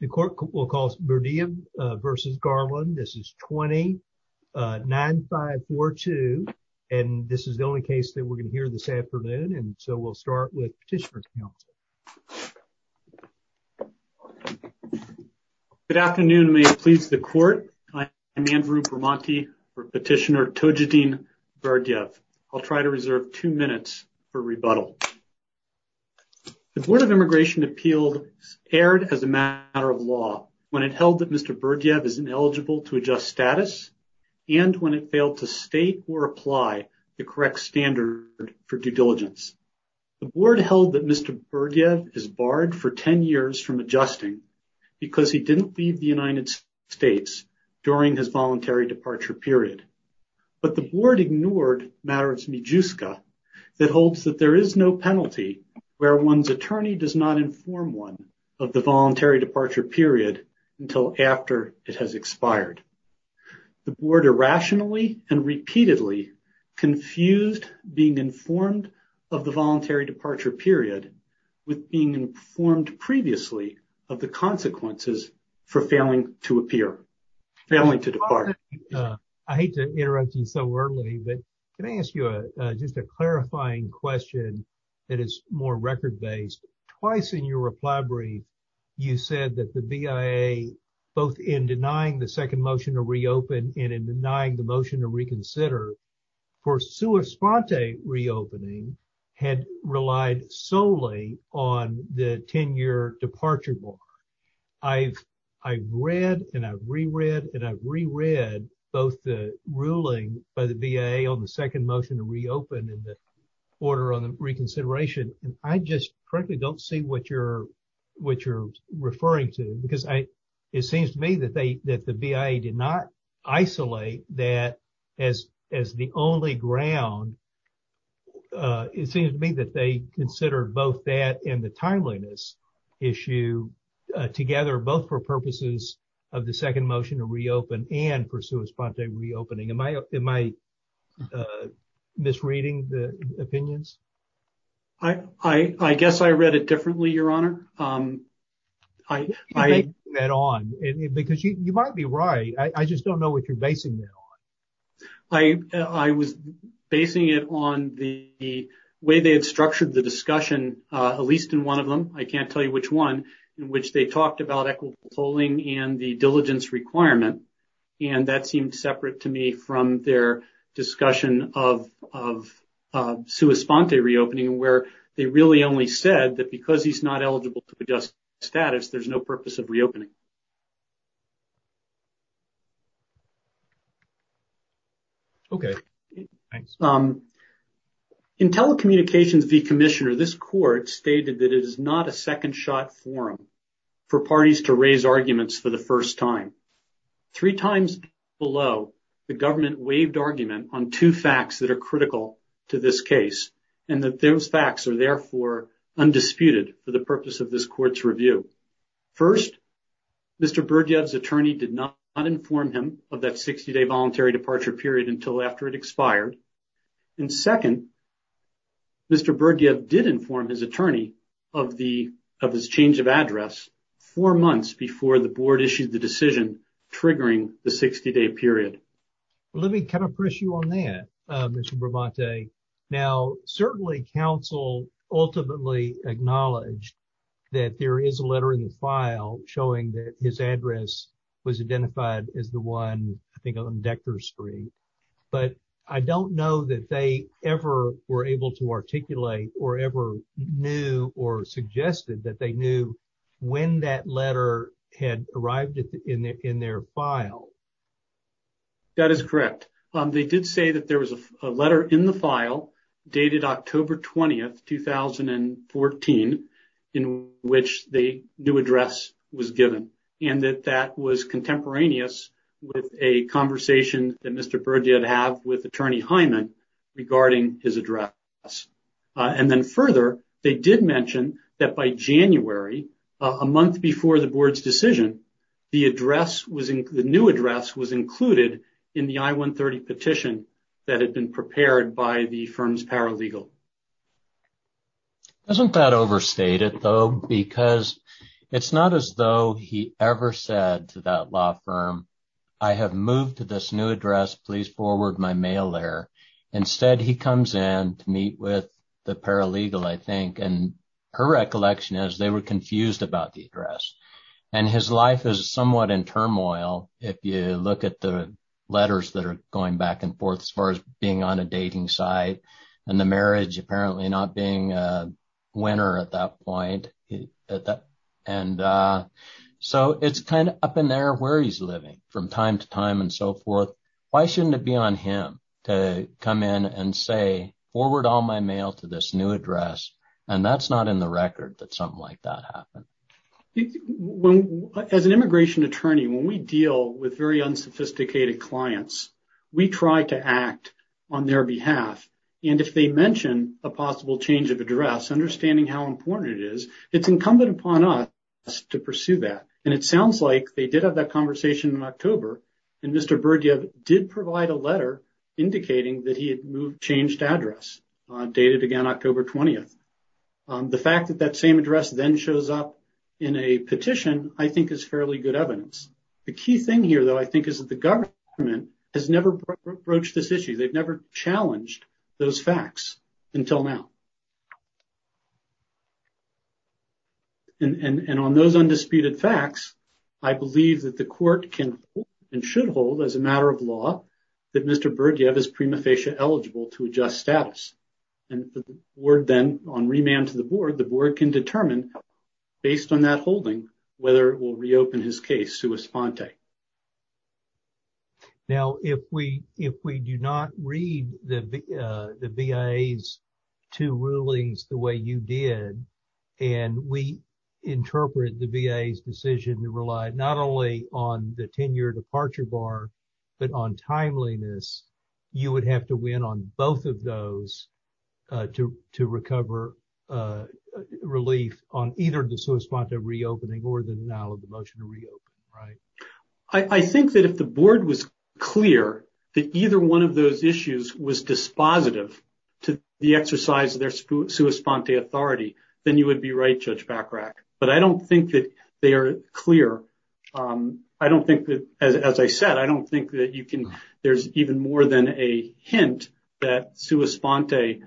The court will call Berdiev v. Garland. This is 20-9542, and this is the only case that we're going to hear this afternoon, and so we'll start with Petitioner's Counsel. Good afternoon, and may it please the court. I am Andrew Bramante for Petitioner Tojadin Berdiev. I'll try to reserve two minutes for rebuttal. The Board of Immigration Appeals erred as a matter of law when it held that Mr. Berdiev is ineligible to adjust status, and when it failed to state or apply the correct standard for due diligence. The Board held that Mr. Berdiev is barred for 10 years from adjusting because he didn't leave the United States during his voluntary departure period, but the Board ignored matters of MIJUSCA that holds that there is no penalty where one's attorney does not inform one of the voluntary departure period until after it has expired. The Board irrationally and repeatedly confused being informed of the voluntary departure period with being informed previously of the consequences for failing to appear, failing to depart. I hate to interrupt you so early, but can I ask you just a clarifying question that is more record-based? Twice in your reply brief, you said that the BIA, both in denying the second motion to reopen and in denying the motion to reconsider, for sua sponte reopening had relied solely on the 10-year departure mark. I've read and I've reread and I've reread both the ruling by the BIA on the second motion to reopen and the order on the reconsideration, and I just frankly don't see what you're referring to because it seems to me that the BIA did not isolate that as the only ground. It seems to me that they considered both that and the timeliness issue together, both for purposes of the second motion to reopen and for sua sponte reopening. Am I misreading the opinions? I guess I read it differently, Your Honor. You might be right, I just don't know what you're basing that on. I was basing it on the way they had structured the discussion, at least in one of them, I can't tell you which one, in which they talked about equitable polling and the diligence requirement, and that seemed separate to me from their discussion of sua sponte reopening where they really only said that because he's not eligible to adjust status, there's no purpose of reopening. Okay, thanks. In telecommunications v. commissioner, this court stated that it is not a second shot forum for parties to raise arguments for the first time. Three times below, the government waived argument on two facts that are critical to this case, and that those facts are therefore undisputed for the purpose of this court's review. First, Mr. Berdyov's attorney did not inform him of that 60-day voluntary departure period until after it expired, and second, Mr. Berdyov did inform his attorney of his change of address four months before the board issued the decision triggering the 60-day period. Let me kind of press you on that, Mr. Brabante. Now, certainly, counsel ultimately acknowledged that there is a letter in the file showing that his address was identified as the one, I think, on Dexter Street, but I don't know that they ever were able to articulate or ever knew or suggested that they knew when that letter had arrived in their file. That is correct. They did say that there was a letter in the file dated October 20th, 2014, in which the new address was given, and that that was contemporaneous with a conversation that Mr. Berdyov had with attorney Hyman regarding his address, and then further, they did mention that by January, a month before the board's decision, the new address was paralegal. Doesn't that overstate it, though? Because it's not as though he ever said to that law firm, I have moved to this new address. Please forward my mail there. Instead, he comes in to meet with the paralegal, I think, and her recollection is they were confused about the address, and his life is somewhat in turmoil if you look at the letters that are going back and forth. He's got his wife on the other side, and the marriage apparently not being a winner at that point. And so, it's kind of up in there where he's living from time to time and so forth. Why shouldn't it be on him to come in and say, forward all my mail to this new address, and that's not in the record that something like that happened. As an immigration attorney, when we and if they mention a possible change of address, understanding how important it is, it's incumbent upon us to pursue that. And it sounds like they did have that conversation in October, and Mr. Berdyuk did provide a letter indicating that he had moved changed address, dated again October 20th. The fact that that same address then shows up in a petition, I think, is fairly good evidence. The key thing here, though, I think, is that the government has never broached this issue. They've never challenged those facts until now. And on those undisputed facts, I believe that the court can and should hold as a matter of law that Mr. Berdyuk is prima facie eligible to adjust status. And the board then, on remand to the board, the board can determine, based on that holding, whether it will reopen his case sua sponte. Now, if we do not read the BIA's two rulings the way you did, and we interpret the BIA's decision to rely not only on the tenure departure bar, but on timeliness, you would have to win on both of those to recover relief on either the sua sponte reopening or the denial of the motion to reopen, right? I think that if the board was clear that either one of those issues was dispositive to the exercise of their sua sponte authority, then you would be right, Judge Bachrach. But I don't think that they are clear. I don't think that, as I said, I don't think that you can, there's even more than a hint that sua sponte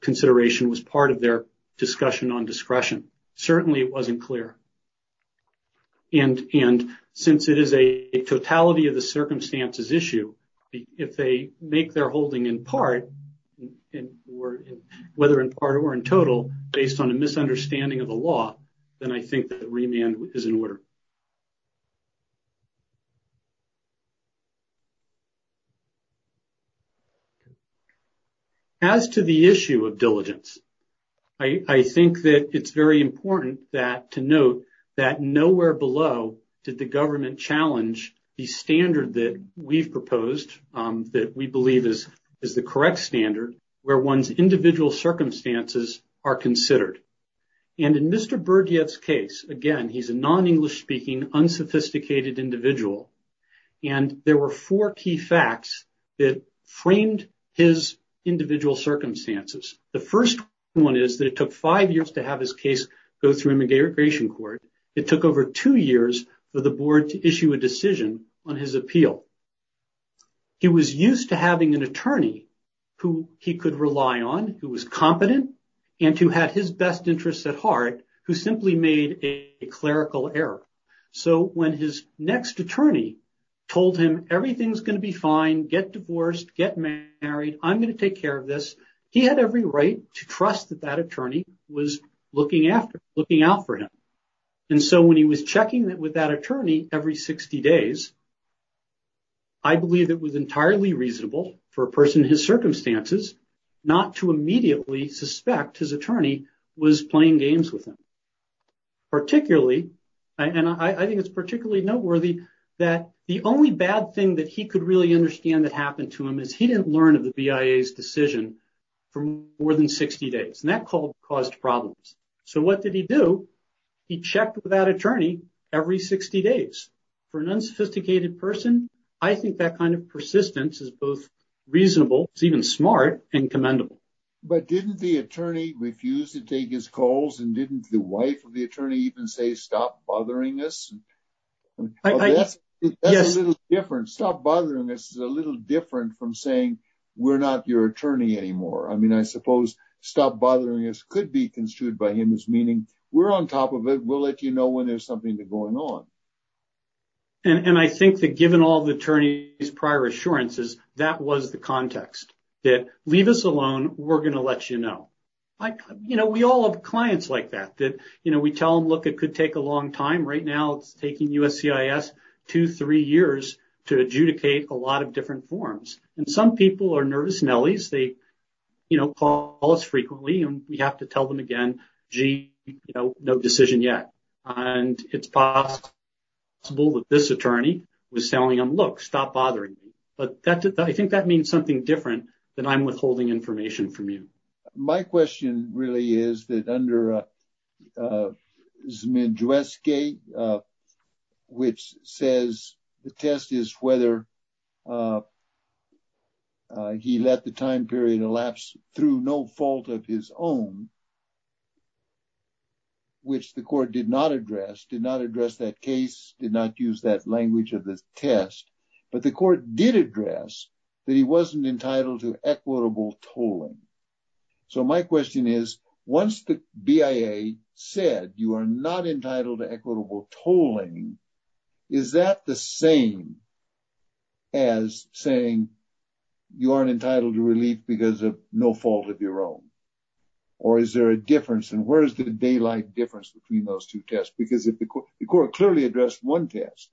consideration was part of their discussion on discretion. Certainly it wasn't clear. And since it is a totality of the circumstances issue, if they make their holding in part, whether in part or in total, based on a misunderstanding of the law, then I think that remand is in order. As to the issue of diligence, I think that it's very important that, to note, that nowhere below did the government challenge the standard that we've proposed, that we believe is the correct standard, where one's individual circumstances are considered. And in Mr. Berdyuk's case, again, unsophisticated individual, and there were four key facts that framed his individual circumstances. The first one is that it took five years to have his case go through immigration court. It took over two years for the board to issue a decision on his appeal. He was used to having an attorney who he could rely on, who was competent, and who had his best interests at heart, who simply made a clerical error. So when his next attorney told him, everything's going to be fine, get divorced, get married, I'm going to take care of this, he had every right to trust that that attorney was looking out for him. And so when he was checking with that attorney every 60 days, I believe it was entirely reasonable for a person in his circumstances not to immediately suspect his attorney was playing games with him. Particularly, and I think it's particularly noteworthy, that the only bad thing that he could really understand that happened to him is he didn't learn of the BIA's decision for more than 60 days. And that caused problems. So what did he do? He checked with that attorney every 60 days. For an unsophisticated person, I think that kind of persistence is both reasonable, it's even smart, and commendable. But didn't the attorney refuse to take his calls? And didn't the wife of the attorney even say, stop bothering us? That's a little different. Stop bothering us is a little different from saying, we're not your attorney anymore. I mean, I suppose stop bothering us could be construed by him as meaning, we're on top of it, we'll let you know when there's something going on. And I think that given all the attorney's prior assurances, that was the context. That, leave us alone, we're going to let you know. You know, we all have clients like that. That, you know, we tell them, look, it could take a long time. Right now, it's taking USCIS two, three years to adjudicate a lot of different forms. And some people are nervous nellies. They, you know, call us frequently and we have to tell them again, gee, you know, no decision yet. And it's possible that this attorney was telling them, look, stop bothering me. But that, I think that means something different than I'm withholding information from you. My question really is that under Zmijewski, which says the test is whether he let the time period elapse through no fault of his own, which the court did not address, did not address that case, did not use that language of the test, but the court did address that he wasn't entitled to equitable tolling. So, my question is, once the BIA said you are not entitled to equitable tolling, is that the same as saying you aren't entitled to relief because of no fault of your own? Or is there a difference? And where is the daylight difference between those two tests? Because the court clearly addressed one test.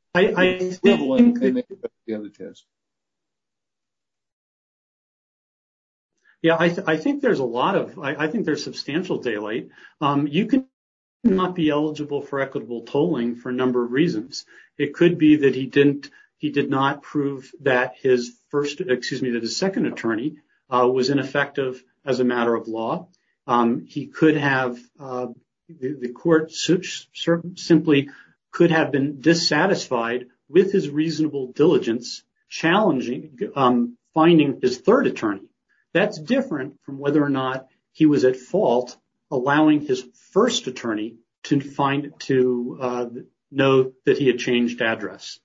Yeah, I think there's a lot of, I think there's substantial daylight. You could not be eligible for equitable tolling for a number of reasons. It could be that he didn't, he did not prove that his first, excuse me, that his second attorney was ineffective as a matter of law. He could have, the court simply could have been dissatisfied with his reasonable diligence challenging, finding his third attorney. That's different from whether or not he was at fault allowing his first attorney to find, to know that he had changed address.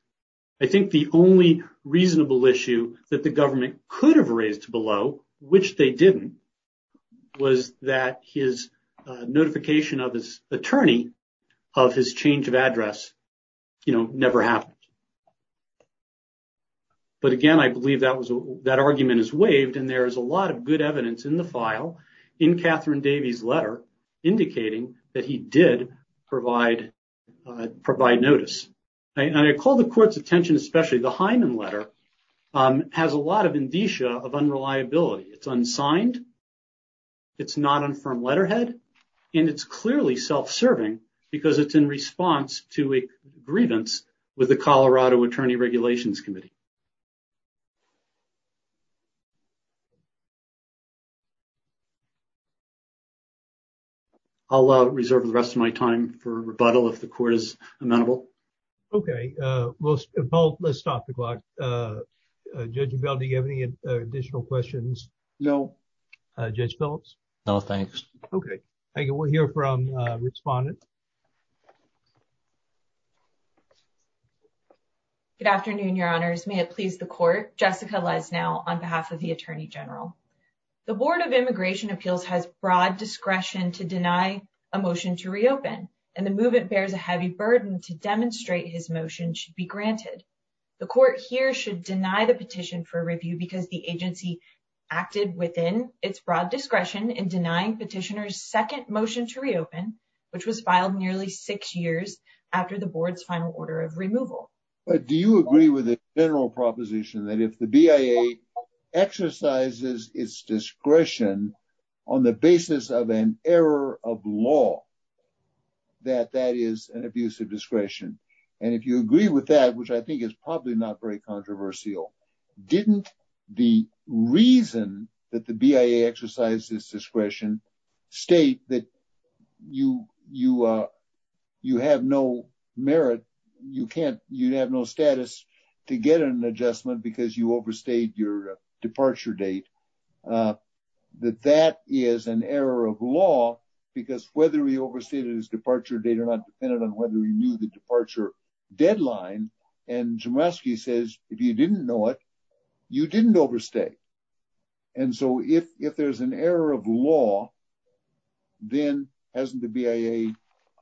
I think the only reasonable issue that the government could have raised below, which they didn't, was that his notification of his attorney of his change of address, you know, never happened. But again, I believe that was, that argument is waived and there is a lot of good evidence in the court's attention, especially the Hyman letter has a lot of indicia of unreliability. It's unsigned, it's not on firm letterhead, and it's clearly self-serving because it's in response to a grievance with the Colorado Attorney Regulations Committee. I'll reserve the rest of my time for rebuttal if the court is involved. Let's stop the clock. Judge Bell, do you have any additional questions? No. Judge Phillips? No, thanks. Okay, thank you. We'll hear from respondents. Good afternoon, your honors. May it please the court. Jessica Lesnau on behalf of the Attorney General. The Board of Immigration Appeals has broad discretion to deny a motion to reopen and the movement bears a heavy burden to demonstrate his motion should be granted. The court here should deny the petition for review because the agency acted within its broad discretion in denying petitioner's second motion to reopen, which was filed nearly six years after the board's final order of removal. But do you agree with the general proposition that if the BIA exercises its discretion on the basis of an error of law, that that is an abuse of discretion? And if you agree with that, which I think is probably not very controversial, didn't the reason that the BIA exercises discretion state that you have no merit, you can't, you have no status to get an adjustment because you overstayed your departure date, that that is an error of law because whether he overstated his departure date or not depended on whether he knew the departure deadline. And Chmielewski says, if you didn't know it, you didn't overstay. And so if there's an error of law, then hasn't the BIA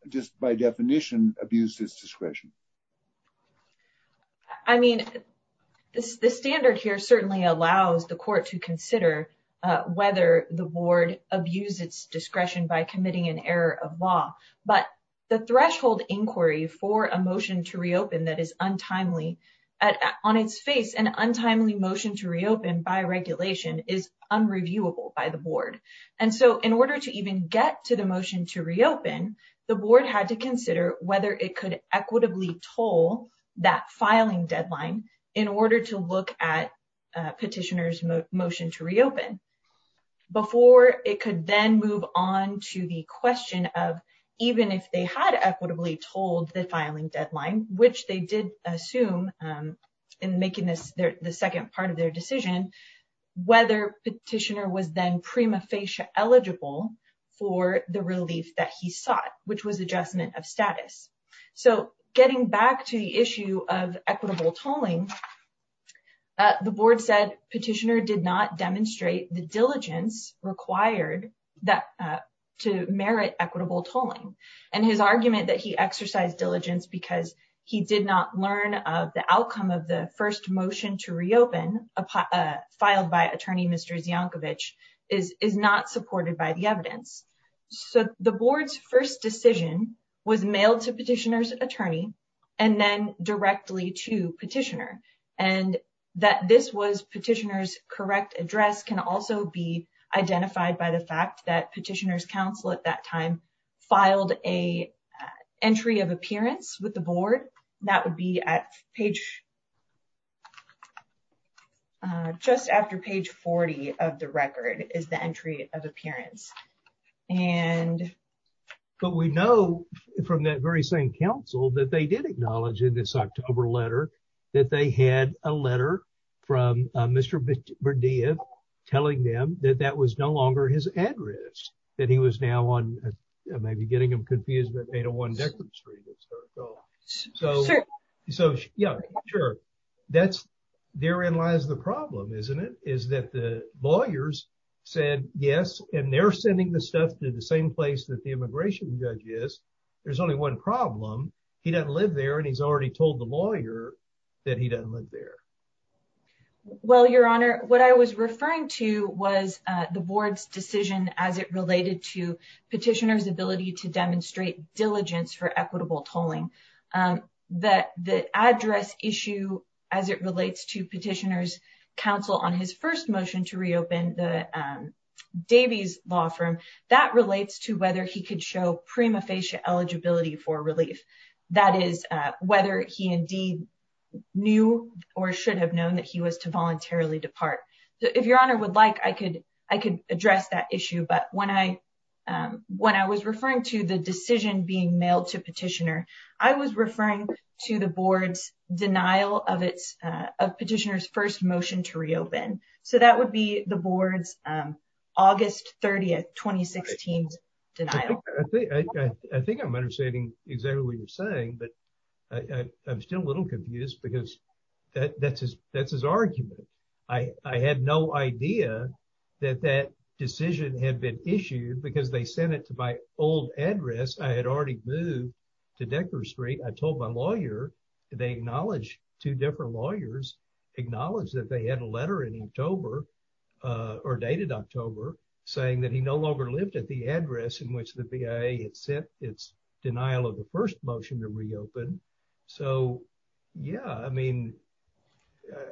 just by definition abused his discretion? I mean, the standard here certainly allows the court to consider whether the board abused its discretion by committing an error of law. But the threshold inquiry for a motion to reopen that is on its face, an untimely motion to reopen by regulation is unreviewable by the board. And so in order to even get to the motion to reopen, the board had to consider whether it could equitably toll that filing deadline in order to look at a petitioner's motion to reopen before it could then move on to the question of even if they had equitably told the filing deadline, which they did assume in making this the second part of their decision, whether petitioner was then prima facie eligible for the relief that he sought, which was adjustment of status. So getting back to the issue of equitable tolling, the board said petitioner did not demonstrate the diligence required that to merit equitable tolling and his argument that he exercised diligence because he did not learn of the filed by attorney Mr. Zyankovic is not supported by the evidence. So the board's first decision was mailed to petitioner's attorney and then directly to petitioner and that this was petitioner's correct address can also be identified by the fact that petitioner's counsel at that time filed a entry of appearance with the board. That would be at page uh just after page 40 of the record is the entry of appearance. But we know from that very same counsel that they did acknowledge in this October letter that they had a letter from Mr. Berdia telling them that that was no longer his address, that he was now on maybe getting them confused with 801 Decker Street. So so yeah sure that's therein lies the problem isn't it is that the lawyers said yes and they're sending the stuff to the same place that the immigration judge is there's only one problem he doesn't live there and he's already told the lawyer that he doesn't live there. Well your honor what I was referring to was uh the board's decision as it related to um that the address issue as it relates to petitioner's counsel on his first motion to reopen the um Davies law firm that relates to whether he could show prima facie eligibility for relief. That is uh whether he indeed knew or should have known that he was to voluntarily depart. So if your honor would like I could I could address that issue but when I um when I referring to the decision being mailed to petitioner I was referring to the board's denial of its uh of petitioner's first motion to reopen. So that would be the board's um August 30th 2016 denial. I think I'm understanding exactly what you're saying but I I'm still a little confused because that that's his that's his argument. I I had no idea that that decision had been issued because they sent it to my old address. I had already moved to Decker street. I told my lawyer they acknowledged two different lawyers acknowledged that they had a letter in October uh or dated October saying that he no longer lived at the address in which the BIA had sent its denial of the first motion to reopen. So yeah I mean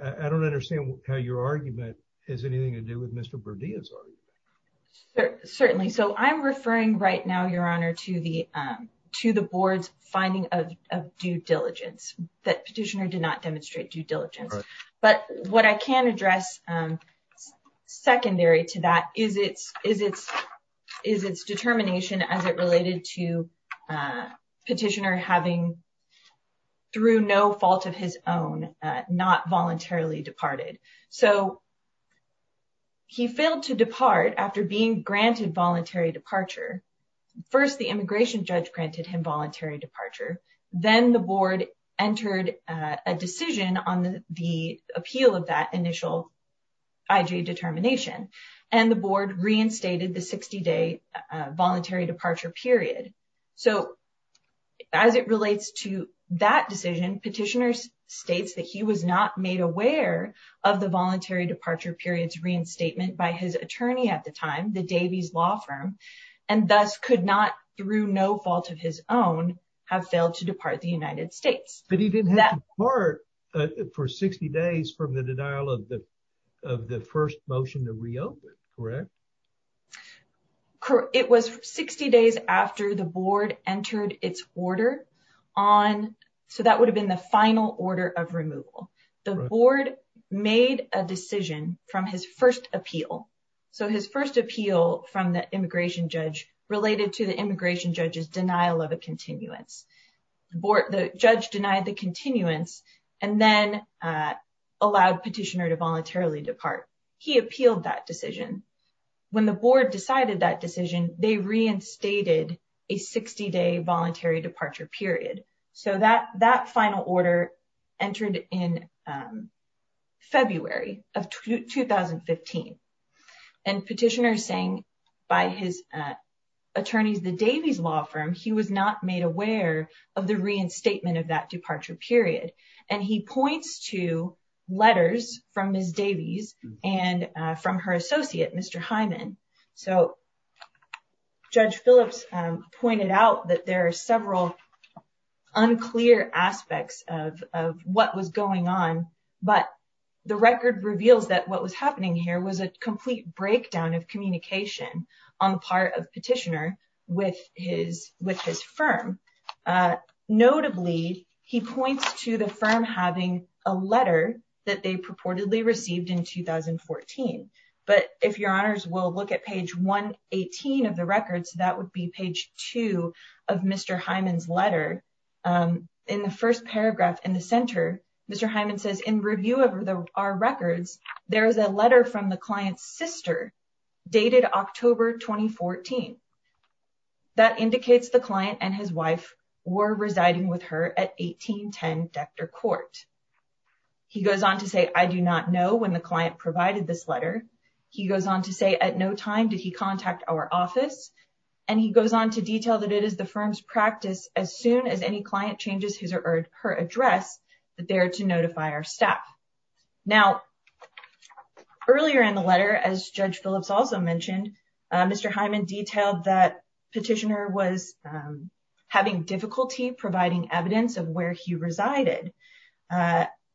I don't understand how your argument has anything to do with Mr. Berdia's argument. Certainly so I'm referring right now your honor to the um to the board's finding of due diligence that petitioner did not demonstrate due diligence but what I can address um secondary to that is its is its is its determination as it related to uh through no fault of his own uh not voluntarily departed. So he failed to depart after being granted voluntary departure. First the immigration judge granted him voluntary departure then the board entered a decision on the appeal of that initial IJ determination and the board reinstated the 60-day uh voluntary departure period. So as it relates to that decision petitioner states that he was not made aware of the voluntary departure period's reinstatement by his attorney at the time the Davies law firm and thus could not through no fault of his own have failed to depart the United States. But he didn't have to part for 60 days from the denial of the first motion to reopen correct? It was 60 days after the board entered its order on so that would have been the final order of removal. The board made a decision from his first appeal. So his first appeal from the immigration judge related to the immigration judge's denial of a continuance. The judge denied the continuance and then allowed petitioner to voluntarily depart. He appealed that decision. When the board decided that decision they reinstated a 60-day voluntary departure period. So that that final order entered in February of 2015 and petitioner saying by his attorneys the Davies law firm he was not made aware of the reinstatement of that departure period. And he points to letters from Ms. Davies and from her associate Mr. Hyman. So Judge Phillips pointed out that there are several unclear aspects of of what was going on but the record reveals that what was happening here was a complete breakdown of communication on the part of petitioner with his firm. Notably he points to the firm having a letter that they purportedly received in 2014. But if your honors will look at page 118 of the records that would be page 2 of Mr. Hyman's letter. In the first paragraph in Mr. Hyman says in review of the our records there is a letter from the client's sister dated October 2014. That indicates the client and his wife were residing with her at 1810 Dexter Court. He goes on to say I do not know when the client provided this letter. He goes on to say at no time did he contact our office and he goes on to detail that it is the firm's practice as soon as any client changes his or her address that they are to notify our staff. Now earlier in the letter as Judge Phillips also mentioned Mr. Hyman detailed that petitioner was having difficulty providing evidence of where he resided.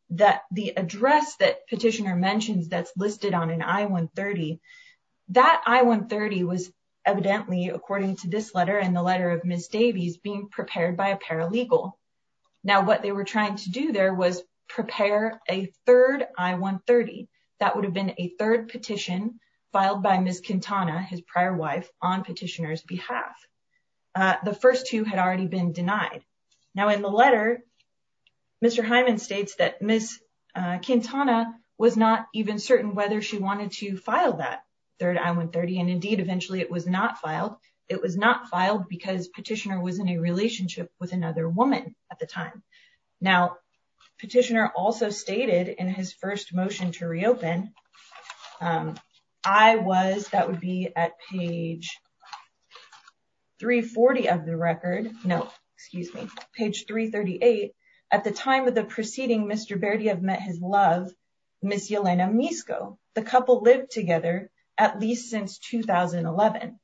That the address that petitioner mentions that's listed on an I-130. That I-130 was evidently according to this letter and the letter of Ms. Davies being prepared by a paralegal. Now what they were trying to do there was prepare a third I-130. That would have been a third petition filed by Ms. Quintana his prior wife on petitioner's behalf. The first two had already been denied. Now in the letter Mr. Hyman states that Ms. Quintana was not even certain whether she wanted to file that third I-130 and indeed eventually it was not with another woman at the time. Now petitioner also stated in his first motion to reopen I was that would be at page 340 of the record no excuse me page 338 at the time of the preceding Mr. Berdyev met his love Ms. Yelena Misko. The couple lived together at least since 2011.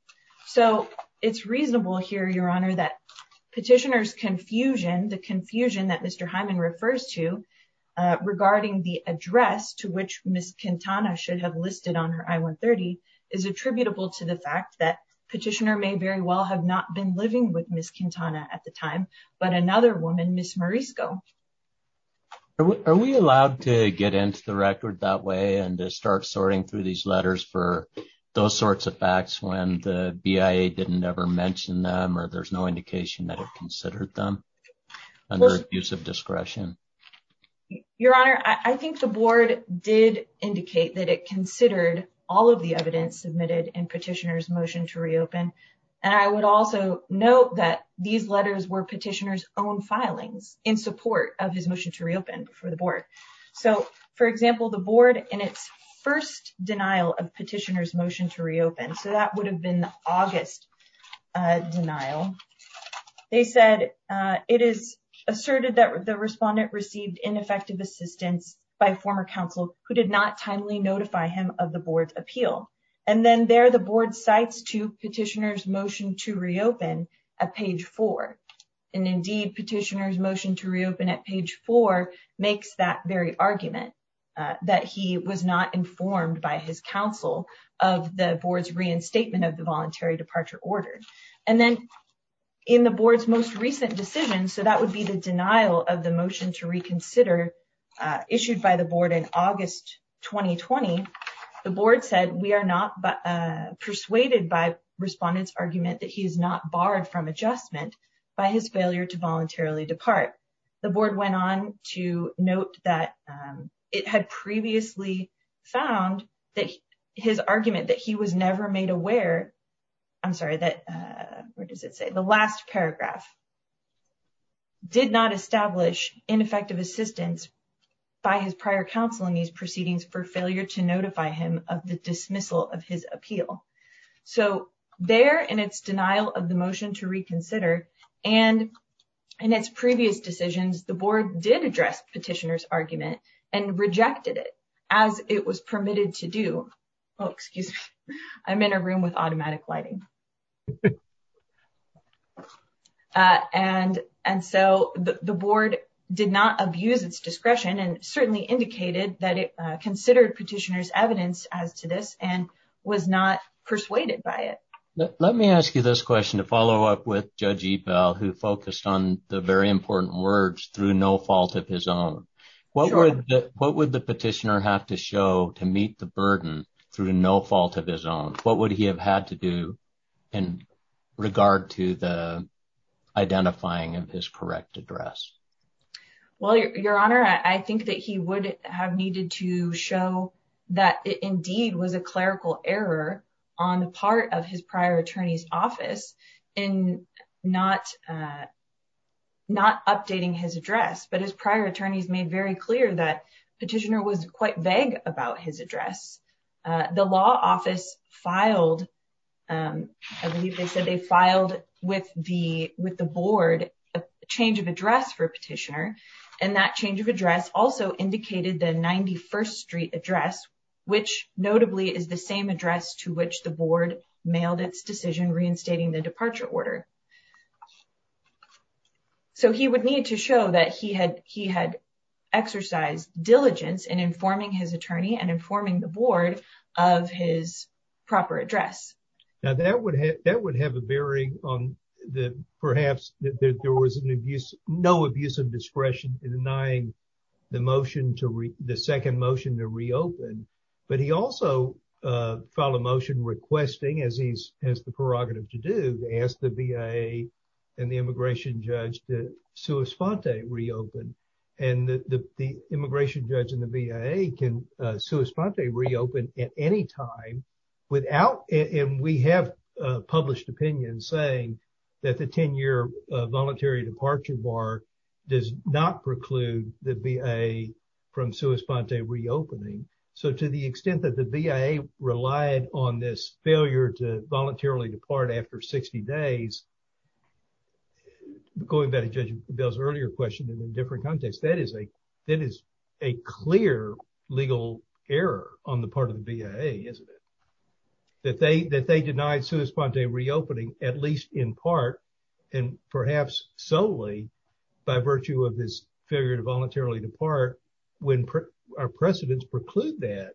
So it's reasonable here your honor that petitioner's confusion the confusion that Mr. Hyman refers to regarding the address to which Ms. Quintana should have listed on her I-130 is attributable to the fact that petitioner may very well have not been living with Ms. Quintana at the time but another woman Ms. Marisco. Are we allowed to get into the record that way and start sorting through these letters for those sorts of facts when the BIA didn't ever mention them or there's no indication that it considered them under abuse of discretion? Your honor I think the board did indicate that it considered all of the evidence submitted in petitioner's motion to reopen and I would also note that these letters were petitioner's own filings in support of his for the board. So for example the board in its first denial of petitioner's motion to reopen so that would have been the August denial they said it is asserted that the respondent received ineffective assistance by former counsel who did not timely notify him of the board's appeal and then there the board cites to petitioner's motion to reopen at page 4 and indeed petitioner's at page 4 makes that very argument that he was not informed by his counsel of the board's reinstatement of the voluntary departure order and then in the board's most recent decision so that would be the denial of the motion to reconsider issued by the board in August 2020 the board said we are not persuaded by respondents argument that he is not barred from adjustment by his failure to voluntarily depart the board went on to note that it had previously found that his argument that he was never made aware I'm sorry that where does it say the last paragraph did not establish ineffective assistance by his prior counsel in these proceedings for failure to notify him of the dismissal of his appeal so there in its denial of the motion to reconsider and in its previous decisions the board did address petitioner's argument and rejected it as it was permitted to do oh excuse me I'm in a room with automatic lighting and and so the board did not abuse its discretion and certainly indicated that it as to this and was not persuaded by it let me ask you this question to follow up with judge ebell who focused on the very important words through no fault of his own what would what would the petitioner have to show to meet the burden through no fault of his own what would he have had to do in regard to the identifying of his correct address well your honor I think that he would have needed to show that it indeed was a clerical error on the part of his prior attorney's office in not not updating his address but his prior attorneys made very clear that petitioner was quite vague about his address the law office filed I believe they said they filed with the with the board a change of address for petitioner and that change of address also indicated the 91st street address which notably is the same address to which the board mailed its decision reinstating the departure order so he would need to show that he had he had exercised diligence in informing his attorney and informing the board of his proper address now that would have that would have a perhaps that there was an abuse no abuse of discretion in denying the motion to re the second motion to reopen but he also uh filed a motion requesting as he's has the prerogative to do ask the BIA and the immigration judge to sua sponte reopen and the the immigration judge and the BIA can uh sua sponte reopen at any time without and we have uh published opinion saying that the 10-year voluntary departure bar does not preclude the BIA from sua sponte reopening so to the extent that the BIA relied on this failure to voluntarily depart after 60 days going back to Judge Bell's earlier question in a different context that is a that is a clear legal error on the part of the BIA isn't it that they that they denied sua sponte reopening at least in part and perhaps solely by virtue of this failure to voluntarily depart when our precedents preclude that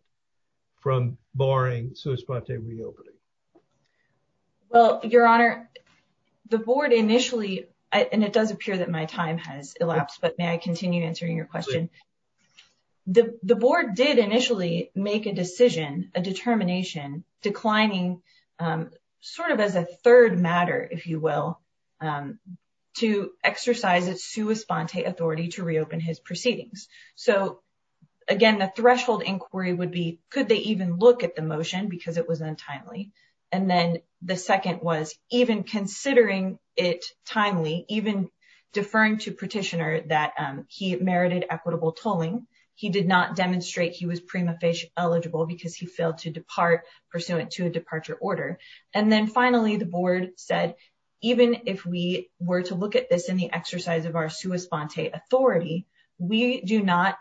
from barring sua sponte reopening well your honor the board initially and it does appear that my time has elapsed but may I continue answering your question the the board did initially make a decision a determination declining sort of as a third matter if you will to exercise its sua sponte authority to reopen his proceedings so again the threshold inquiry would be could they even look at the motion because it was untimely and then the second was even considering it timely even deferring to petitioner that he merited equitable tolling he did not demonstrate he was prima facie eligible because he failed to depart pursuant to a departure order and then finally the board said even if we were to look at this in the exercise of our sua sponte authority we do not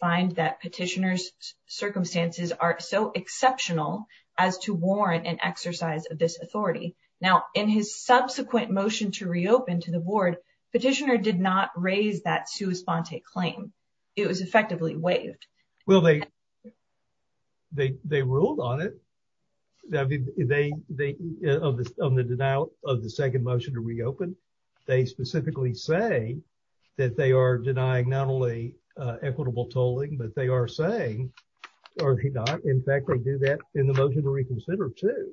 find that petitioner's circumstances are so exceptional as to warrant an exercise of this authority now in his subsequent motion to reopen to the board petitioner did not raise that sua sponte claim it was effectively waived well they they they ruled on it i mean they they on the denial of the second motion to reopen they specifically say that they are denying not only uh equitable tolling but they are saying or if you're not in fact they do that in the motion to reconsider too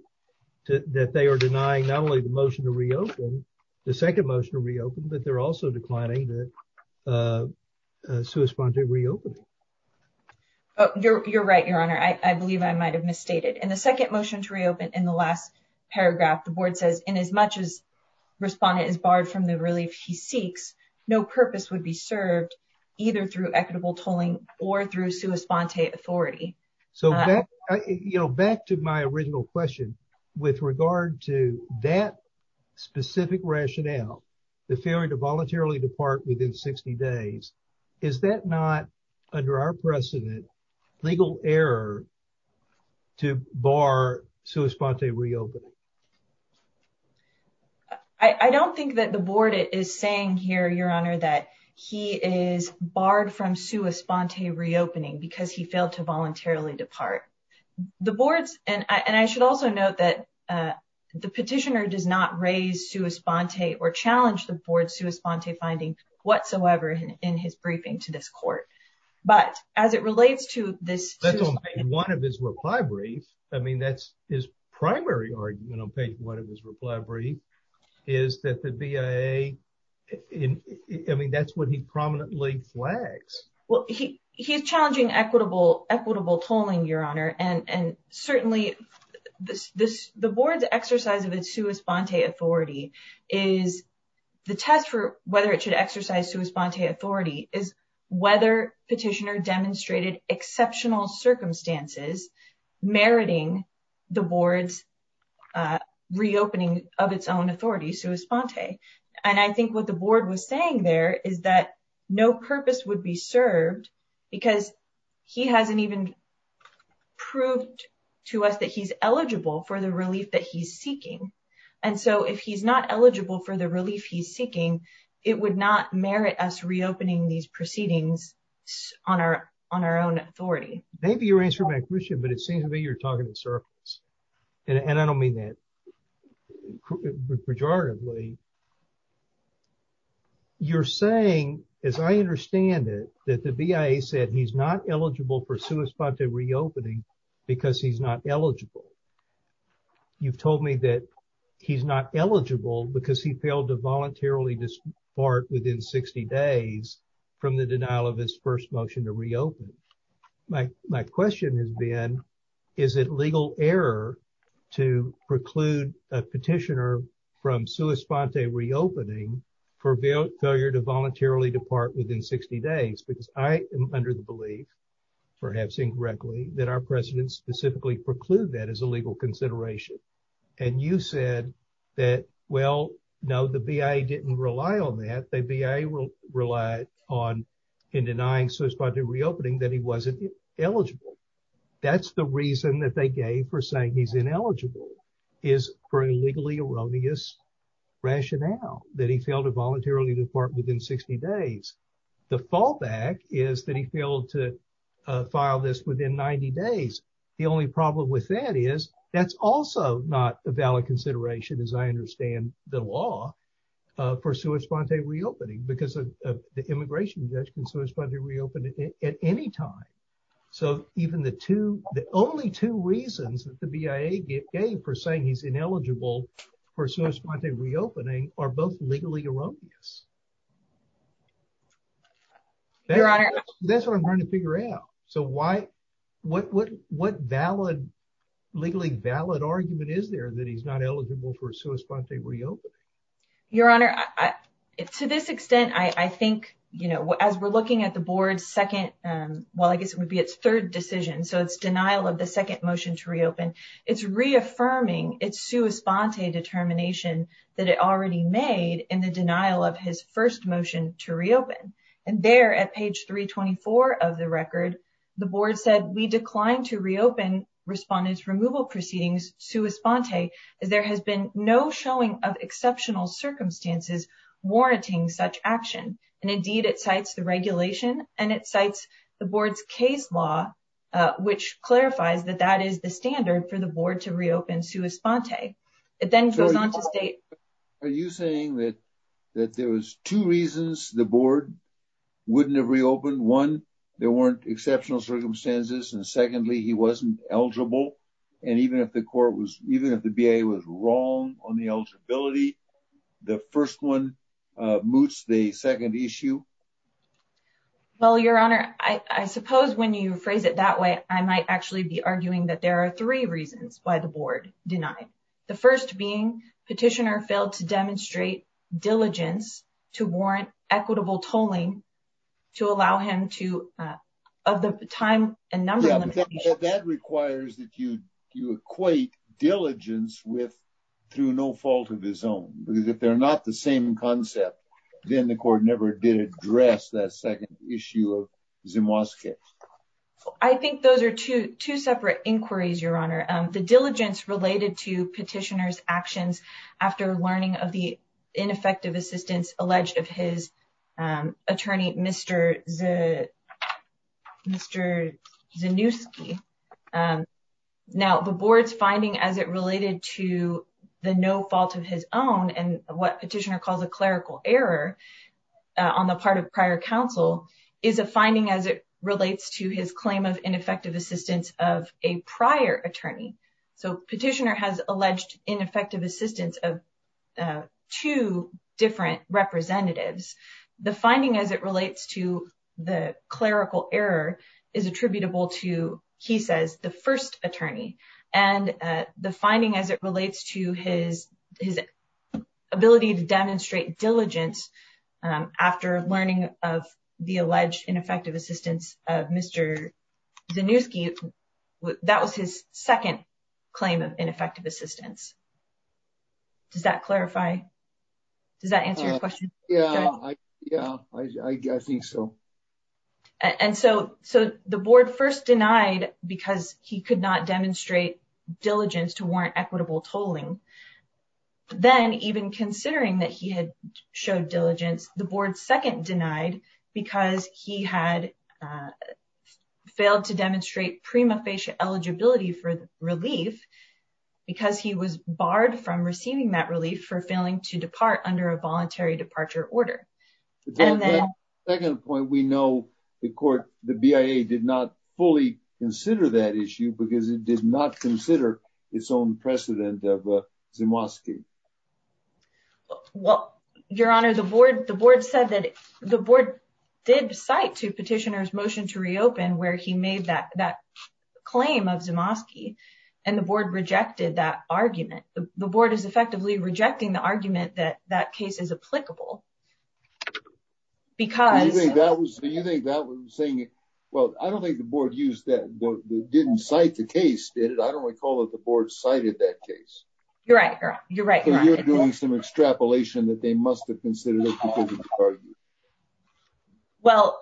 that they are denying not only the motion to reopen the second motion to reopen but they're also declining the uh sua sponte reopening oh you're you're right your honor i i believe i might have misstated in the second motion to reopen in the last paragraph the board says in as much as respondent is barred from the relief he seeks no purpose would be served either through equitable tolling or through sua sponte authority so that you know back to my original question with regard to that specific rationale the failure to voluntarily depart within 60 days is that not under our precedent legal error to bar sua sponte reopening i i don't think that the board is saying here your honor that he is barred from sua sponte reopening because he failed to voluntarily depart the boards and i and i should also note that uh the petitioner does not raise sua sponte or challenge the board sua sponte finding whatsoever in his briefing to this court but as it relates to this one of his reply brief i mean that's his primary argument on page one of his reply brief is that the bia i mean that's what he he's challenging equitable equitable tolling your honor and and certainly this this the board's exercise of its sua sponte authority is the test for whether it should exercise sua sponte authority is whether petitioner demonstrated exceptional circumstances meriting the board's uh reopening of its own authority sua sponte and i think what the board was saying there is that no purpose would be served because he hasn't even proved to us that he's eligible for the relief that he's seeking and so if he's not eligible for the relief he's seeking it would not merit us reopening these proceedings on our on our own authority maybe you're answering my question but it seems to be surface and i don't mean that pejoratively you're saying as i understand it that the bia said he's not eligible for sua sponte reopening because he's not eligible you've told me that he's not eligible because he failed to voluntarily disbar within 60 days from the denial of his first motion to reopen my my question has been is it legal error to preclude a petitioner from sua sponte reopening for failure to voluntarily depart within 60 days because i am under the belief perhaps incorrectly that our president specifically preclude that as a legal consideration and you said that well no the bia didn't rely on the bia will rely on in denying sua sponte reopening that he wasn't eligible that's the reason that they gave for saying he's ineligible is for a legally erroneous rationale that he failed to voluntarily depart within 60 days the fallback is that he failed to file this within 90 days the only problem with that is that's also not a valid consideration as i understand the law for sua sponte reopening because of the immigration judge can so respond to reopen at any time so even the two the only two reasons that the bia gave for saying he's ineligible for sua sponte reopening are both legally erroneous that's what i'm trying to figure out so why what what what valid legally valid argument is there that he's not eligible for sua sponte reopening your honor i to this extent i i think you know as we're looking at the board's second um well i guess it would be its third decision so it's denial of the second motion to reopen it's reaffirming its sua sponte determination that it already made in the denial of his first motion to reopen and there at page 324 of the record the board said we declined to reopen respondents removal proceedings sua sponte as there has been no showing of exceptional circumstances warranting such action and indeed it cites the regulation and it cites the board's case law which clarifies that that is the standard for the board to reopen sua sponte it then goes on to state are you saying that that there was two reasons the board wouldn't have reopened one there weren't exceptional circumstances and secondly he wasn't eligible and even if the court was even if the bia was wrong on the eligibility the first one uh moots the second issue well your honor i i suppose when you phrase it that way i might actually be arguing that there are three reasons why the board denied the first being petitioner failed to demonstrate diligence to warrant equitable tolling to allow him to of the time and number that requires that you you equate diligence with through no fault of his own because if they're not the same concept then the court never did address that second issue of zimwoski i think those are two two separate inquiries your honor um the diligence related to petitioner's actions after learning of the ineffective assistance alleged of his um attorney mr z mr zanusky um now the board's finding as it related to the no fault of his own and what petitioner calls a clerical error on the part of prior counsel is a finding as it relates to his alleged ineffective assistance of two different representatives the finding as it relates to the clerical error is attributable to he says the first attorney and the finding as it relates to his his ability to demonstrate diligence um after learning of the alleged ineffective assistance of zanusky that was his second claim of ineffective assistance does that clarify does that answer your question yeah yeah i think so and so so the board first denied because he could not demonstrate diligence to warrant equitable tolling then even considering that he had showed diligence the board second denied because he had failed to demonstrate prima facie eligibility for relief because he was barred from receiving that relief for failing to depart under a voluntary departure order and then second point we know the court the bia did not fully consider that issue because it did not consider its own precedent of uh zanusky well your honor the board the board said that the board did cite to petitioner's motion to reopen where he made that that claim of zanusky and the board rejected that argument the board is effectively rejecting the argument that that case is applicable because you think that was do you think that was saying well i don't think the case did it i don't recall that the board cited that case you're right you're right you're doing some extrapolation that they must have considered it because of the argument well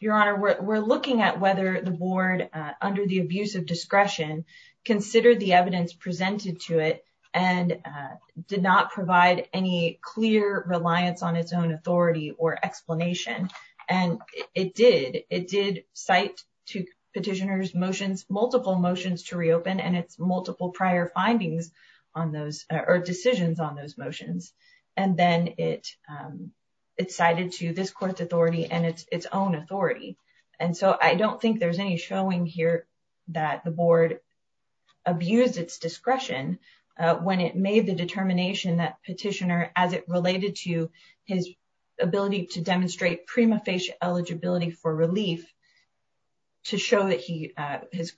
your honor we're looking at whether the board uh under the abuse of discretion considered the evidence presented to it and uh did not provide any clear reliance on its own authority or explanation and it did it did cite to petitioner's motions multiple motions to reopen and its multiple prior findings on those or decisions on those motions and then it um it cited to this court's authority and its its own authority and so i don't think there's any showing here that the board abused its discretion uh when it made the determination that petitioner as it related to his ability to demonstrate prima facie eligibility for relief to show that he his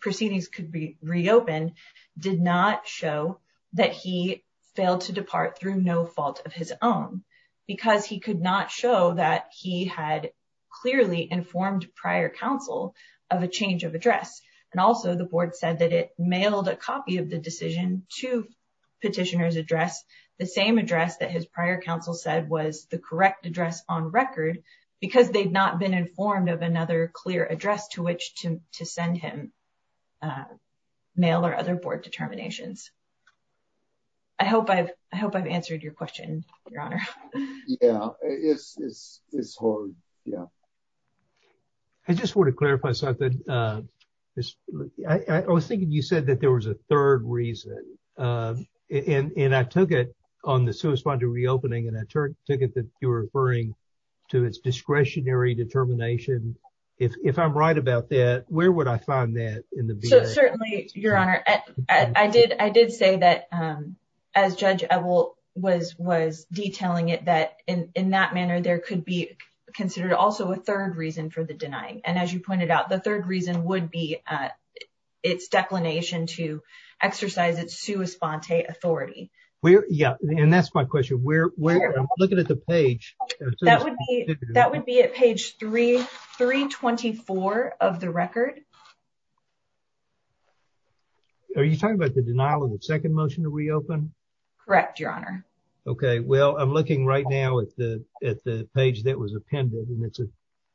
proceedings could be reopened did not show that he failed to depart through no fault of his own because he could not show that he had clearly informed prior counsel of a change of address and also the board said that it mailed a copy of the decision to petitioner's address the same address that his prior counsel said was the correct address on record because they've not been informed of another clear address to which to to send him uh mail or other board determinations i hope i've i hope i've answered your question your honor yeah it's it's it's hard yeah i just want to clarify something uh just i i was thinking you said that there was a third reason uh and and i took it on the reopening and i took it that you were referring to its discretionary determination if if i'm right about that where would i find that in the bill certainly your honor i did i did say that um as judge ebel was was detailing it that in in that manner there could be considered also a third reason for the denying and as you pointed out the third reason would be uh its declination to where i'm looking at the page that would be that would be at page 3 324 of the record are you talking about the denial of the second motion to reopen correct your honor okay well i'm looking right now at the at the page that was appended and it's a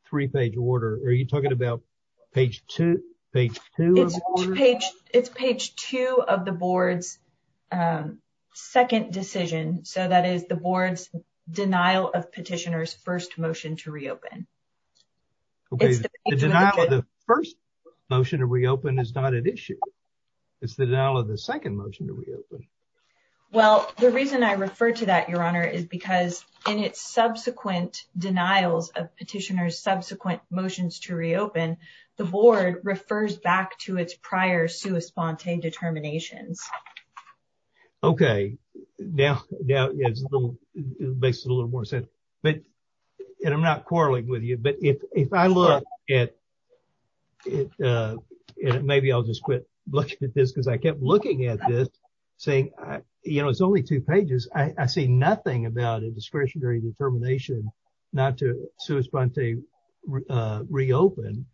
three-page order are you page two page two it's page two of the board's um second decision so that is the board's denial of petitioners first motion to reopen okay the denial of the first motion to reopen is not an issue it's the denial of the second motion to reopen well the reason i refer to that your honor is because in its subsequent denials of petitioners subsequent motions to reopen the board refers back to its prior sua sponte determinations okay now now it's a little makes it a little more sense but and i'm not quarreling with you but if if i look at it uh maybe i'll just quit looking at this because i kept looking at this saying you know it's only two pages i i see nothing about a discretionary determination not to sua sponte uh reopen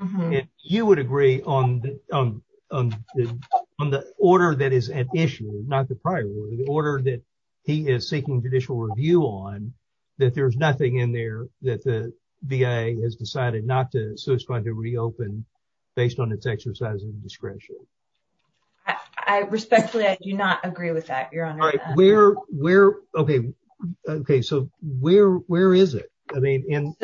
and you would agree on the um on the on the order that is an issue not the prior order the order that he is seeking judicial review on that there's nothing in there that the bia has decided not to so it's going to reopen based on its exercise of discretion i respectfully i do not agree with that where where okay okay so where where is it i mean in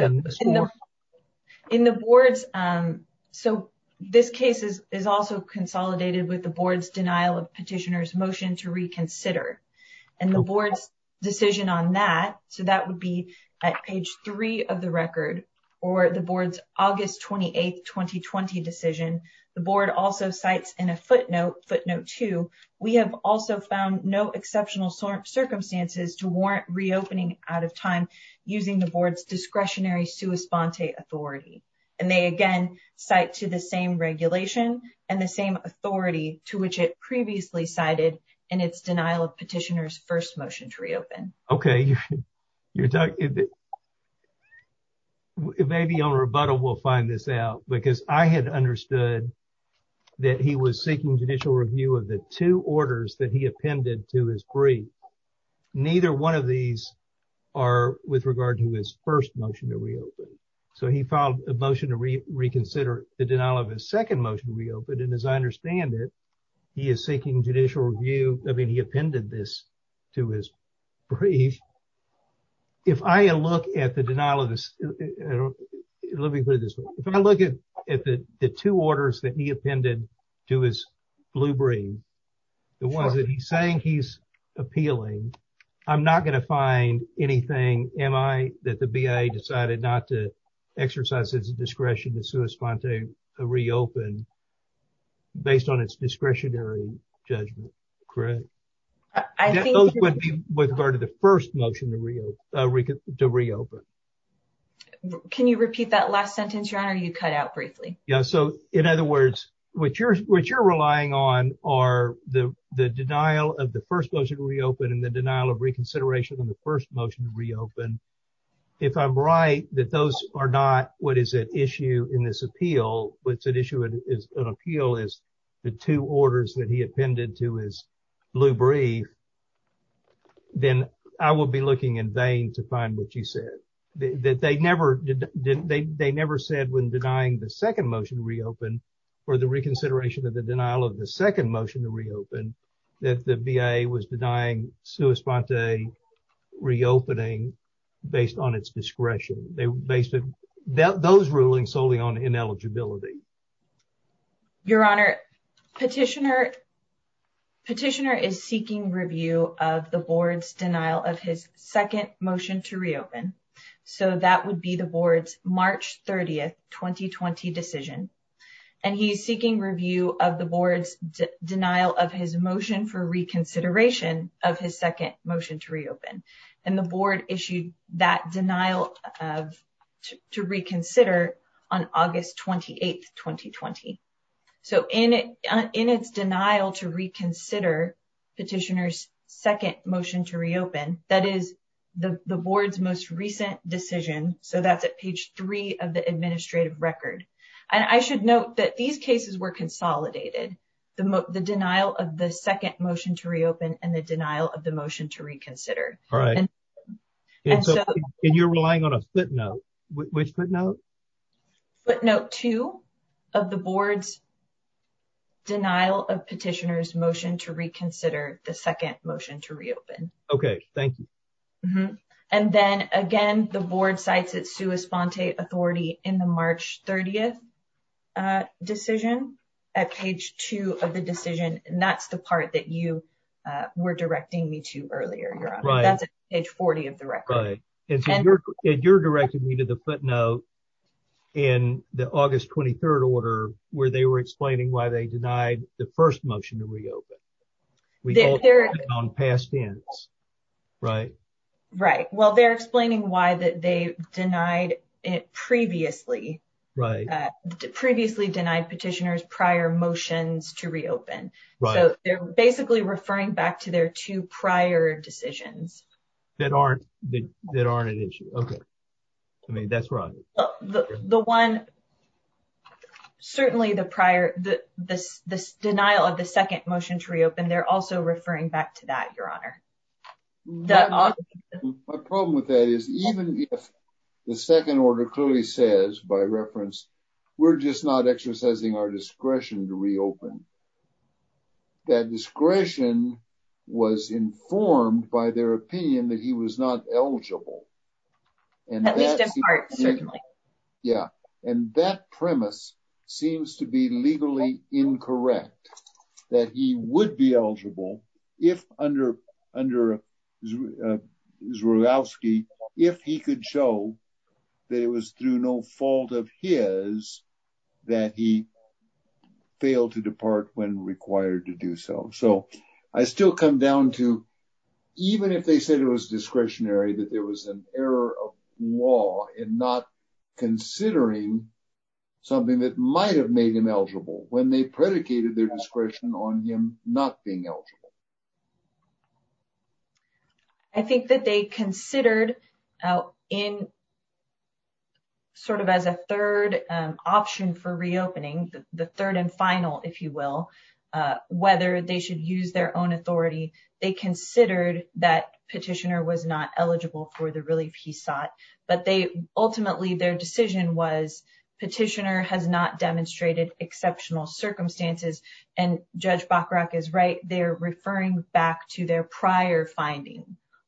in the boards um so this case is is also consolidated with the board's denial of petitioners motion to reconsider and the board's decision on that so that would be at page three of the record or the board's august 28th 2020 decision the board also cites in a footnote footnote two we have also found no exceptional circumstances to warrant reopening out of time using the board's discretionary sua sponte authority and they again cite to the same regulation and the same authority to which it previously cited in its denial of petitioners first motion to reopen okay you're talking about maybe on rebuttal we'll find this out because i had understood that he was seeking judicial review of the two orders that he appended to his brief neither one of these are with regard to his first motion to reopen so he filed a motion to reconsider the denial of his second motion to reopen and as i understand it he is seeking judicial review i mean he appended this to his brief if i look at the denial of this let me put it this way if i look at at the the two orders that he appended to his blue brief the one that he's saying he's appealing i'm not going to find anything am i that the bia decided not to exercise his discretion to sua sponte to reopen based on its discretionary judgment correct i think those would be with regard to the first motion to reopen to reopen can you repeat that last sentence your honor you cut out briefly yeah so in other words what you're what you're relying on are the the denial of the first motion to reopen and the denial of reconsideration on the first motion to reopen if i'm right that those are not what is at issue in this appeal what's at issue is an appeal is the two orders that he appended to his blue brief then i will be looking in vain to find what you said that they never did they they never said when denying the second motion to reopen for the reconsideration of the denial of the second motion to reopen that the bia was denying sua sponte reopening based on its discretion they basically those rulings solely on ineligibility your honor petitioner petitioner is seeking review of the board's denial of his second motion to reopen so that would be the board's march 30th 2020 decision and he's seeking review of the board's denial of his motion for reconsideration of his second motion to reopen and the board issued that denial of to reconsider on august 28th 2020 so in it in its denial to reconsider petitioner's second motion to reopen that is the the board's most recent decision so that's at page three of the administrative record and i should note that these cases were consolidated the the denial of the second motion to reopen and the denial of the motion to reconsider all right and so and you're relying on a footnote which footnote footnote two of the board's denial of petitioner's motion to reconsider the second motion to reopen okay thank you and then again the board cites its sua sponte authority in the march 30th decision at page two of the decision and that's the part that you were directing me to earlier you're on that's page 40 of the record and you're you're directing me to the footnote in the august 23rd order where they were explaining why they denied the first motion to reopen they're on past tense right right well they're explaining why that they denied it previously right previously denied petitioner's prior motions to reopen so they're basically referring back to their two prior decisions that aren't that aren't an issue okay i mean that's right the the one certainly the prior the this this denial of the second motion to reopen they're also referring back to that your honor my problem with that is even if the second order clearly says by reference we're just not exercising our discretion to reopen that discretion was informed by their opinion that he was not eligible at least in part certainly yeah and that premise seems to be legally incorrect that he would be eligible if under under uh zhulovsky if he could show that it was through no fault of his that he failed to depart when required to do so so i still come down to even if they said it was discretionary that there was an error of law in not considering something that might have made him eligible when they predicated their discretion on him not being eligible i think that they considered out in sort of as a third option for reopening the third and final if you will whether they should use their own authority they considered that petitioner was not eligible for the relief he sought but they ultimately their decision was petitioner has not demonstrated exceptional circumstances and judge bacharach is right they're referring back to their prior finding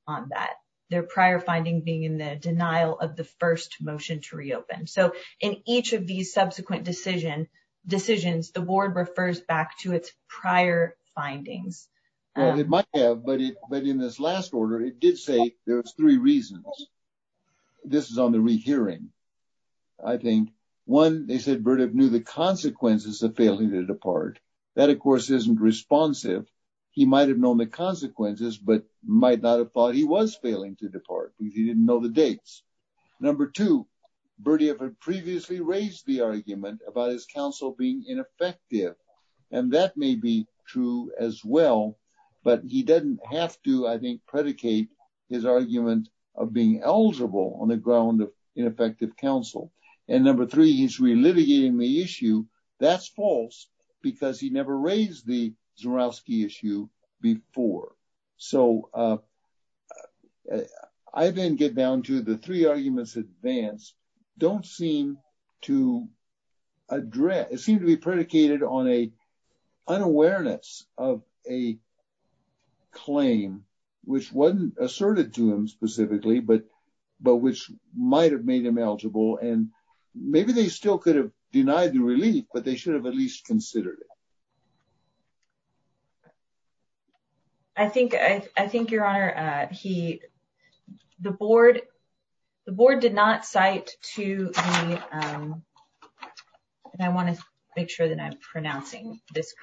on that their prior finding being in the denial of first motion to reopen so in each of these subsequent decision decisions the ward refers back to its prior findings well it might have but it but in this last order it did say there was three reasons this is on the re-hearing i think one they said burdick knew the consequences of failing to depart that of course isn't responsive he might have known the consequences but might not have thought he was failing to depart because he didn't know the dates number two birdie ever previously raised the argument about his counsel being ineffective and that may be true as well but he doesn't have to i think predicate his argument of being eligible on the ground of ineffective counsel and number three he's relitigating the issue that's false because he never raised the zarowski issue before so uh i then get down to the three arguments advanced don't seem to address it seemed to be predicated on a unawareness of a claim which wasn't asserted to him specifically but but which might have made him eligible and maybe they still could have denied the relief but they should have at least considered it i think i i think your honor uh he the board the board did not cite to me um and i want to make sure that i'm pronouncing this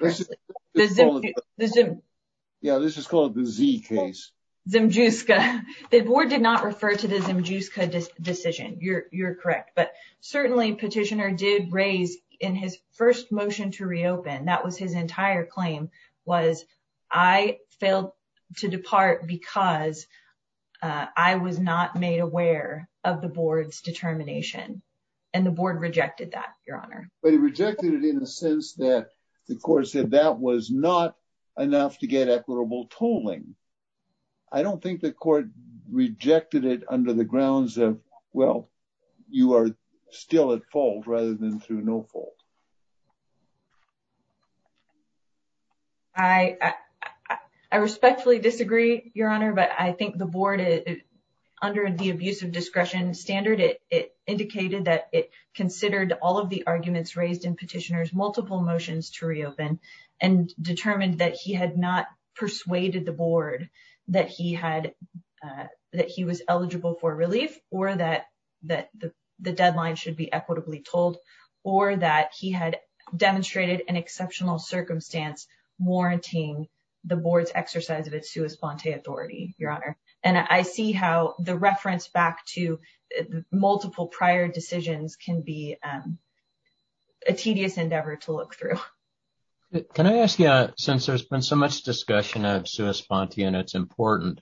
yeah this is called the z case the board did not refer to the decision you're you're correct but certainly petitioner did raise in his first motion to reopen that was his entire claim was i failed to depart because i was not made aware of the board's determination and the board rejected that your honor but he rejected it in the sense that the court said that was not enough to get equitable tolling i don't think the court rejected it under the grounds of well you are still at fault rather than through no fault i i respectfully disagree your honor but i think the board is under the abuse of discretion standard it indicated that it considered all of the arguments raised in petitioners multiple motions to reopen and determined that he had not persuaded the board that he had that he was eligible for relief or that that the deadline should be equitably told or that he had demonstrated an exceptional circumstance warranting the board's exercise of its sua sponte authority your honor and i see how the reference back to multiple prior decisions can be um a tedious endeavor to look through can i ask you since there's been so much discussion of sua sponte and it's important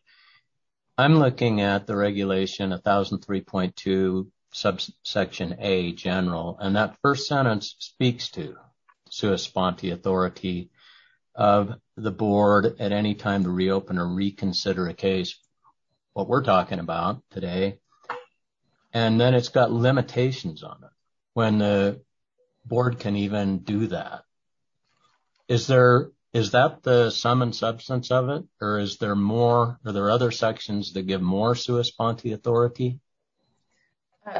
i'm looking at the regulation 1003.2 subsection a general and that first sentence speaks to sua sponte authority of the board at any time to reopen or reconsider a when the board can even do that is there is that the sum and substance of it or is there more are there other sections that give more sua sponte authority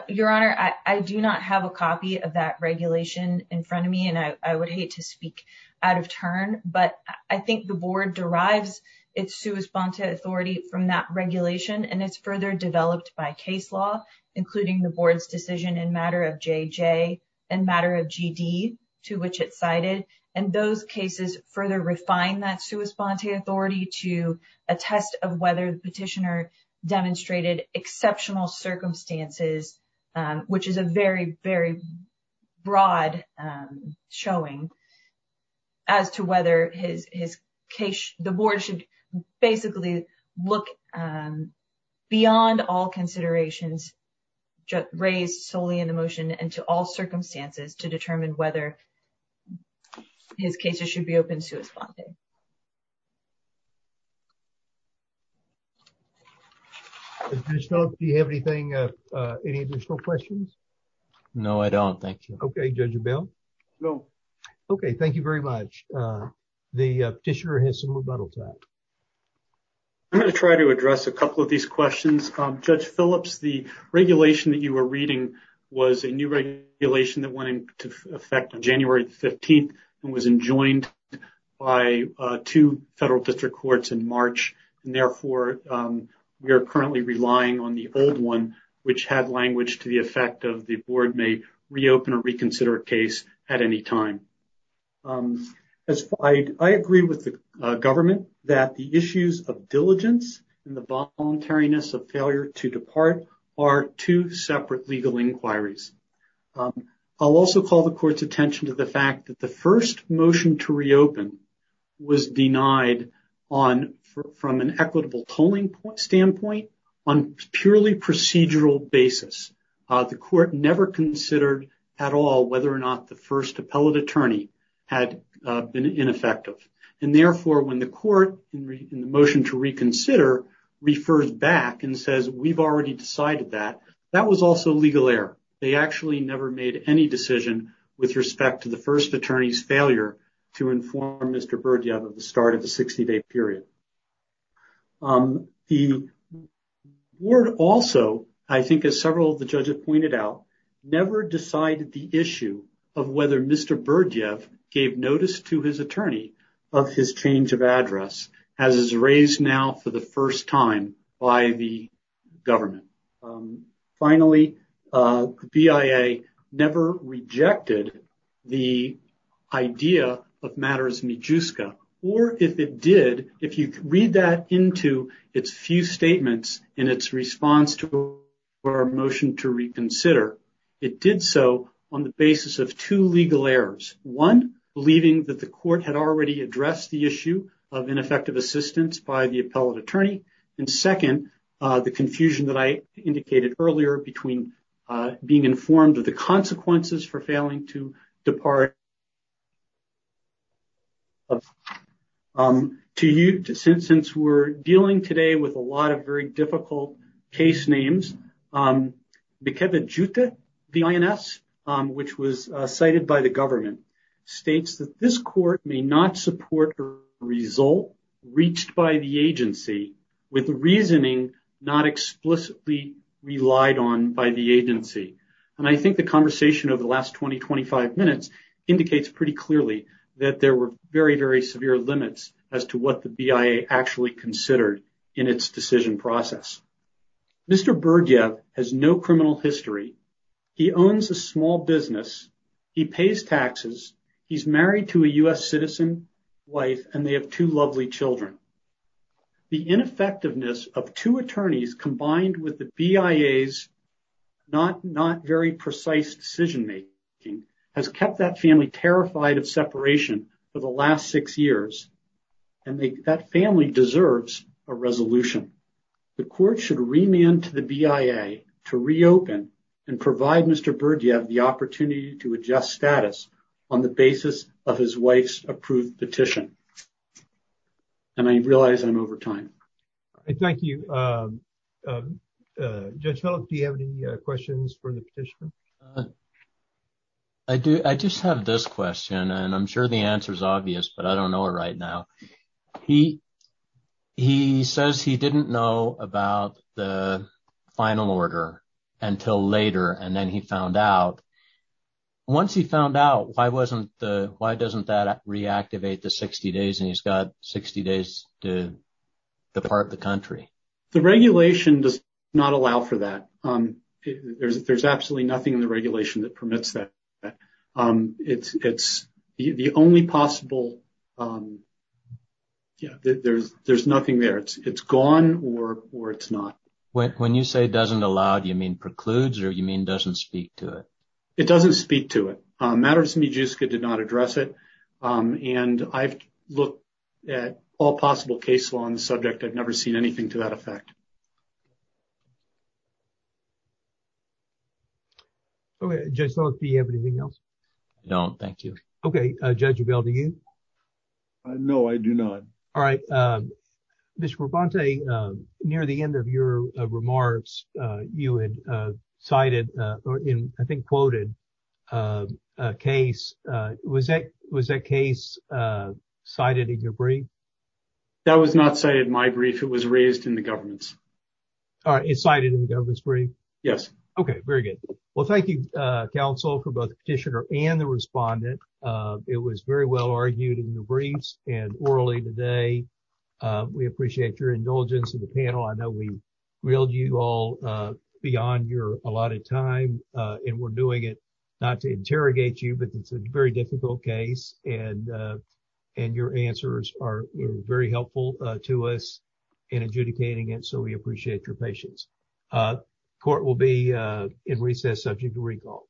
your honor i do not have a copy of that regulation in front of me and i i would hate to speak out of turn but i think the board derives its sua sponte authority from that regulation and it's further developed by case law including the board's decision in matter of jj and matter of gd to which it cited and those cases further refine that sua sponte authority to a test of whether the petitioner demonstrated exceptional circumstances which is a very very broad um showing as to whether his his case the board should basically look um beyond all considerations just raised solely in the motion and to all circumstances to determine whether his cases should be open sua sponte do you have anything uh any additional questions no i don't thank you okay judge abel no okay thank you very much uh the petitioner has some rebuttals out i'm going to try to address a couple of these questions um judge phillips the regulation that you were reading was a new regulation that went into effect on january the 15th and was enjoined by uh two federal district courts in march and therefore um we are currently relying on the old one which had language to the effect of the board may reopen or reconsider a case at any time as i agree with the government that the issues of diligence and the voluntariness of failure to depart are two separate legal inquiries i'll also call the court's attention to the fact that the first motion to reopen was denied on from an equitable tolling point standpoint on purely procedural basis uh the court never considered at all whether or not the first appellate attorney had been ineffective and therefore when the court in the motion to reconsider refers back and says we've already decided that that was also legal error they actually never made any decision with respect to the first attorney's failure to inform mr bird of the start of the 60-day period um the word also i think as several of the judges pointed out never decided the issue of whether mr bird gave notice to his attorney of his change of address as is raised now for the first time by the government um finally uh bia never rejected the idea of matters mijuska or if it did if you read that into its few statements in its response to our motion to reconsider it did so on the basis of two legal errors one believing that the court had already addressed the issue of ineffective assistance by the appellate attorney and second uh the confusion that i indicated earlier between uh being informed of the consequences for failing to depart um to you since since we're dealing today with a lot of very difficult case names um the ins which was cited by the government states that this court may not support a result reached by the agency with reasoning not explicitly relied on by the agency and i think the conversation over the last 20-25 minutes indicates pretty clearly that there were very very severe limits as to what the bia actually considered in its decision process mr bird yet has no criminal history he owns a small business he pays taxes he's married to a u.s citizen wife and they have two lovely children the ineffectiveness of two attorneys combined with the bia's not not very precise decision making has kept that family terrified of separation for the last six years and they that family deserves a resolution the court should remand to the bia to reopen and provide mr bird you have the opportunity to adjust status on the basis of his wife's approved petition and i realize i'm over time i thank you um judge help do you have any questions for the petitioner i just have this question and i'm sure the answer is obvious but i don't know it right now he he says he didn't know about the final order until later and then he found out once he found out why wasn't the why doesn't that reactivate the 60 days and he's got 60 days to depart the country the regulation does not allow for that um there's there's um it's it's the the only possible um yeah there's there's nothing there it's it's gone or or it's not when you say doesn't allow do you mean precludes or you mean doesn't speak to it it doesn't speak to it uh matters mijuska did not address it um and i've looked at all possible case law on the subject i've never seen anything to that effect okay judge let's see you have anything else i don't thank you okay uh judge abel do you no i do not all right um mr robonte um near the end of your remarks uh you had uh cited uh or in i think quoted uh a case uh was that was that case uh cited in your brief that was not cited in my brief it was raised in the government's all right it's cited in the government's brief yes okay very good well thank you uh council for both the petitioner and the respondent uh it was very well argued in the briefs and orally today uh we appreciate your indulgence in the panel i know we reeled you all uh beyond your allotted time uh and we're doing it not to us in adjudicating it so we appreciate your patience uh court will be uh in recess subject to recall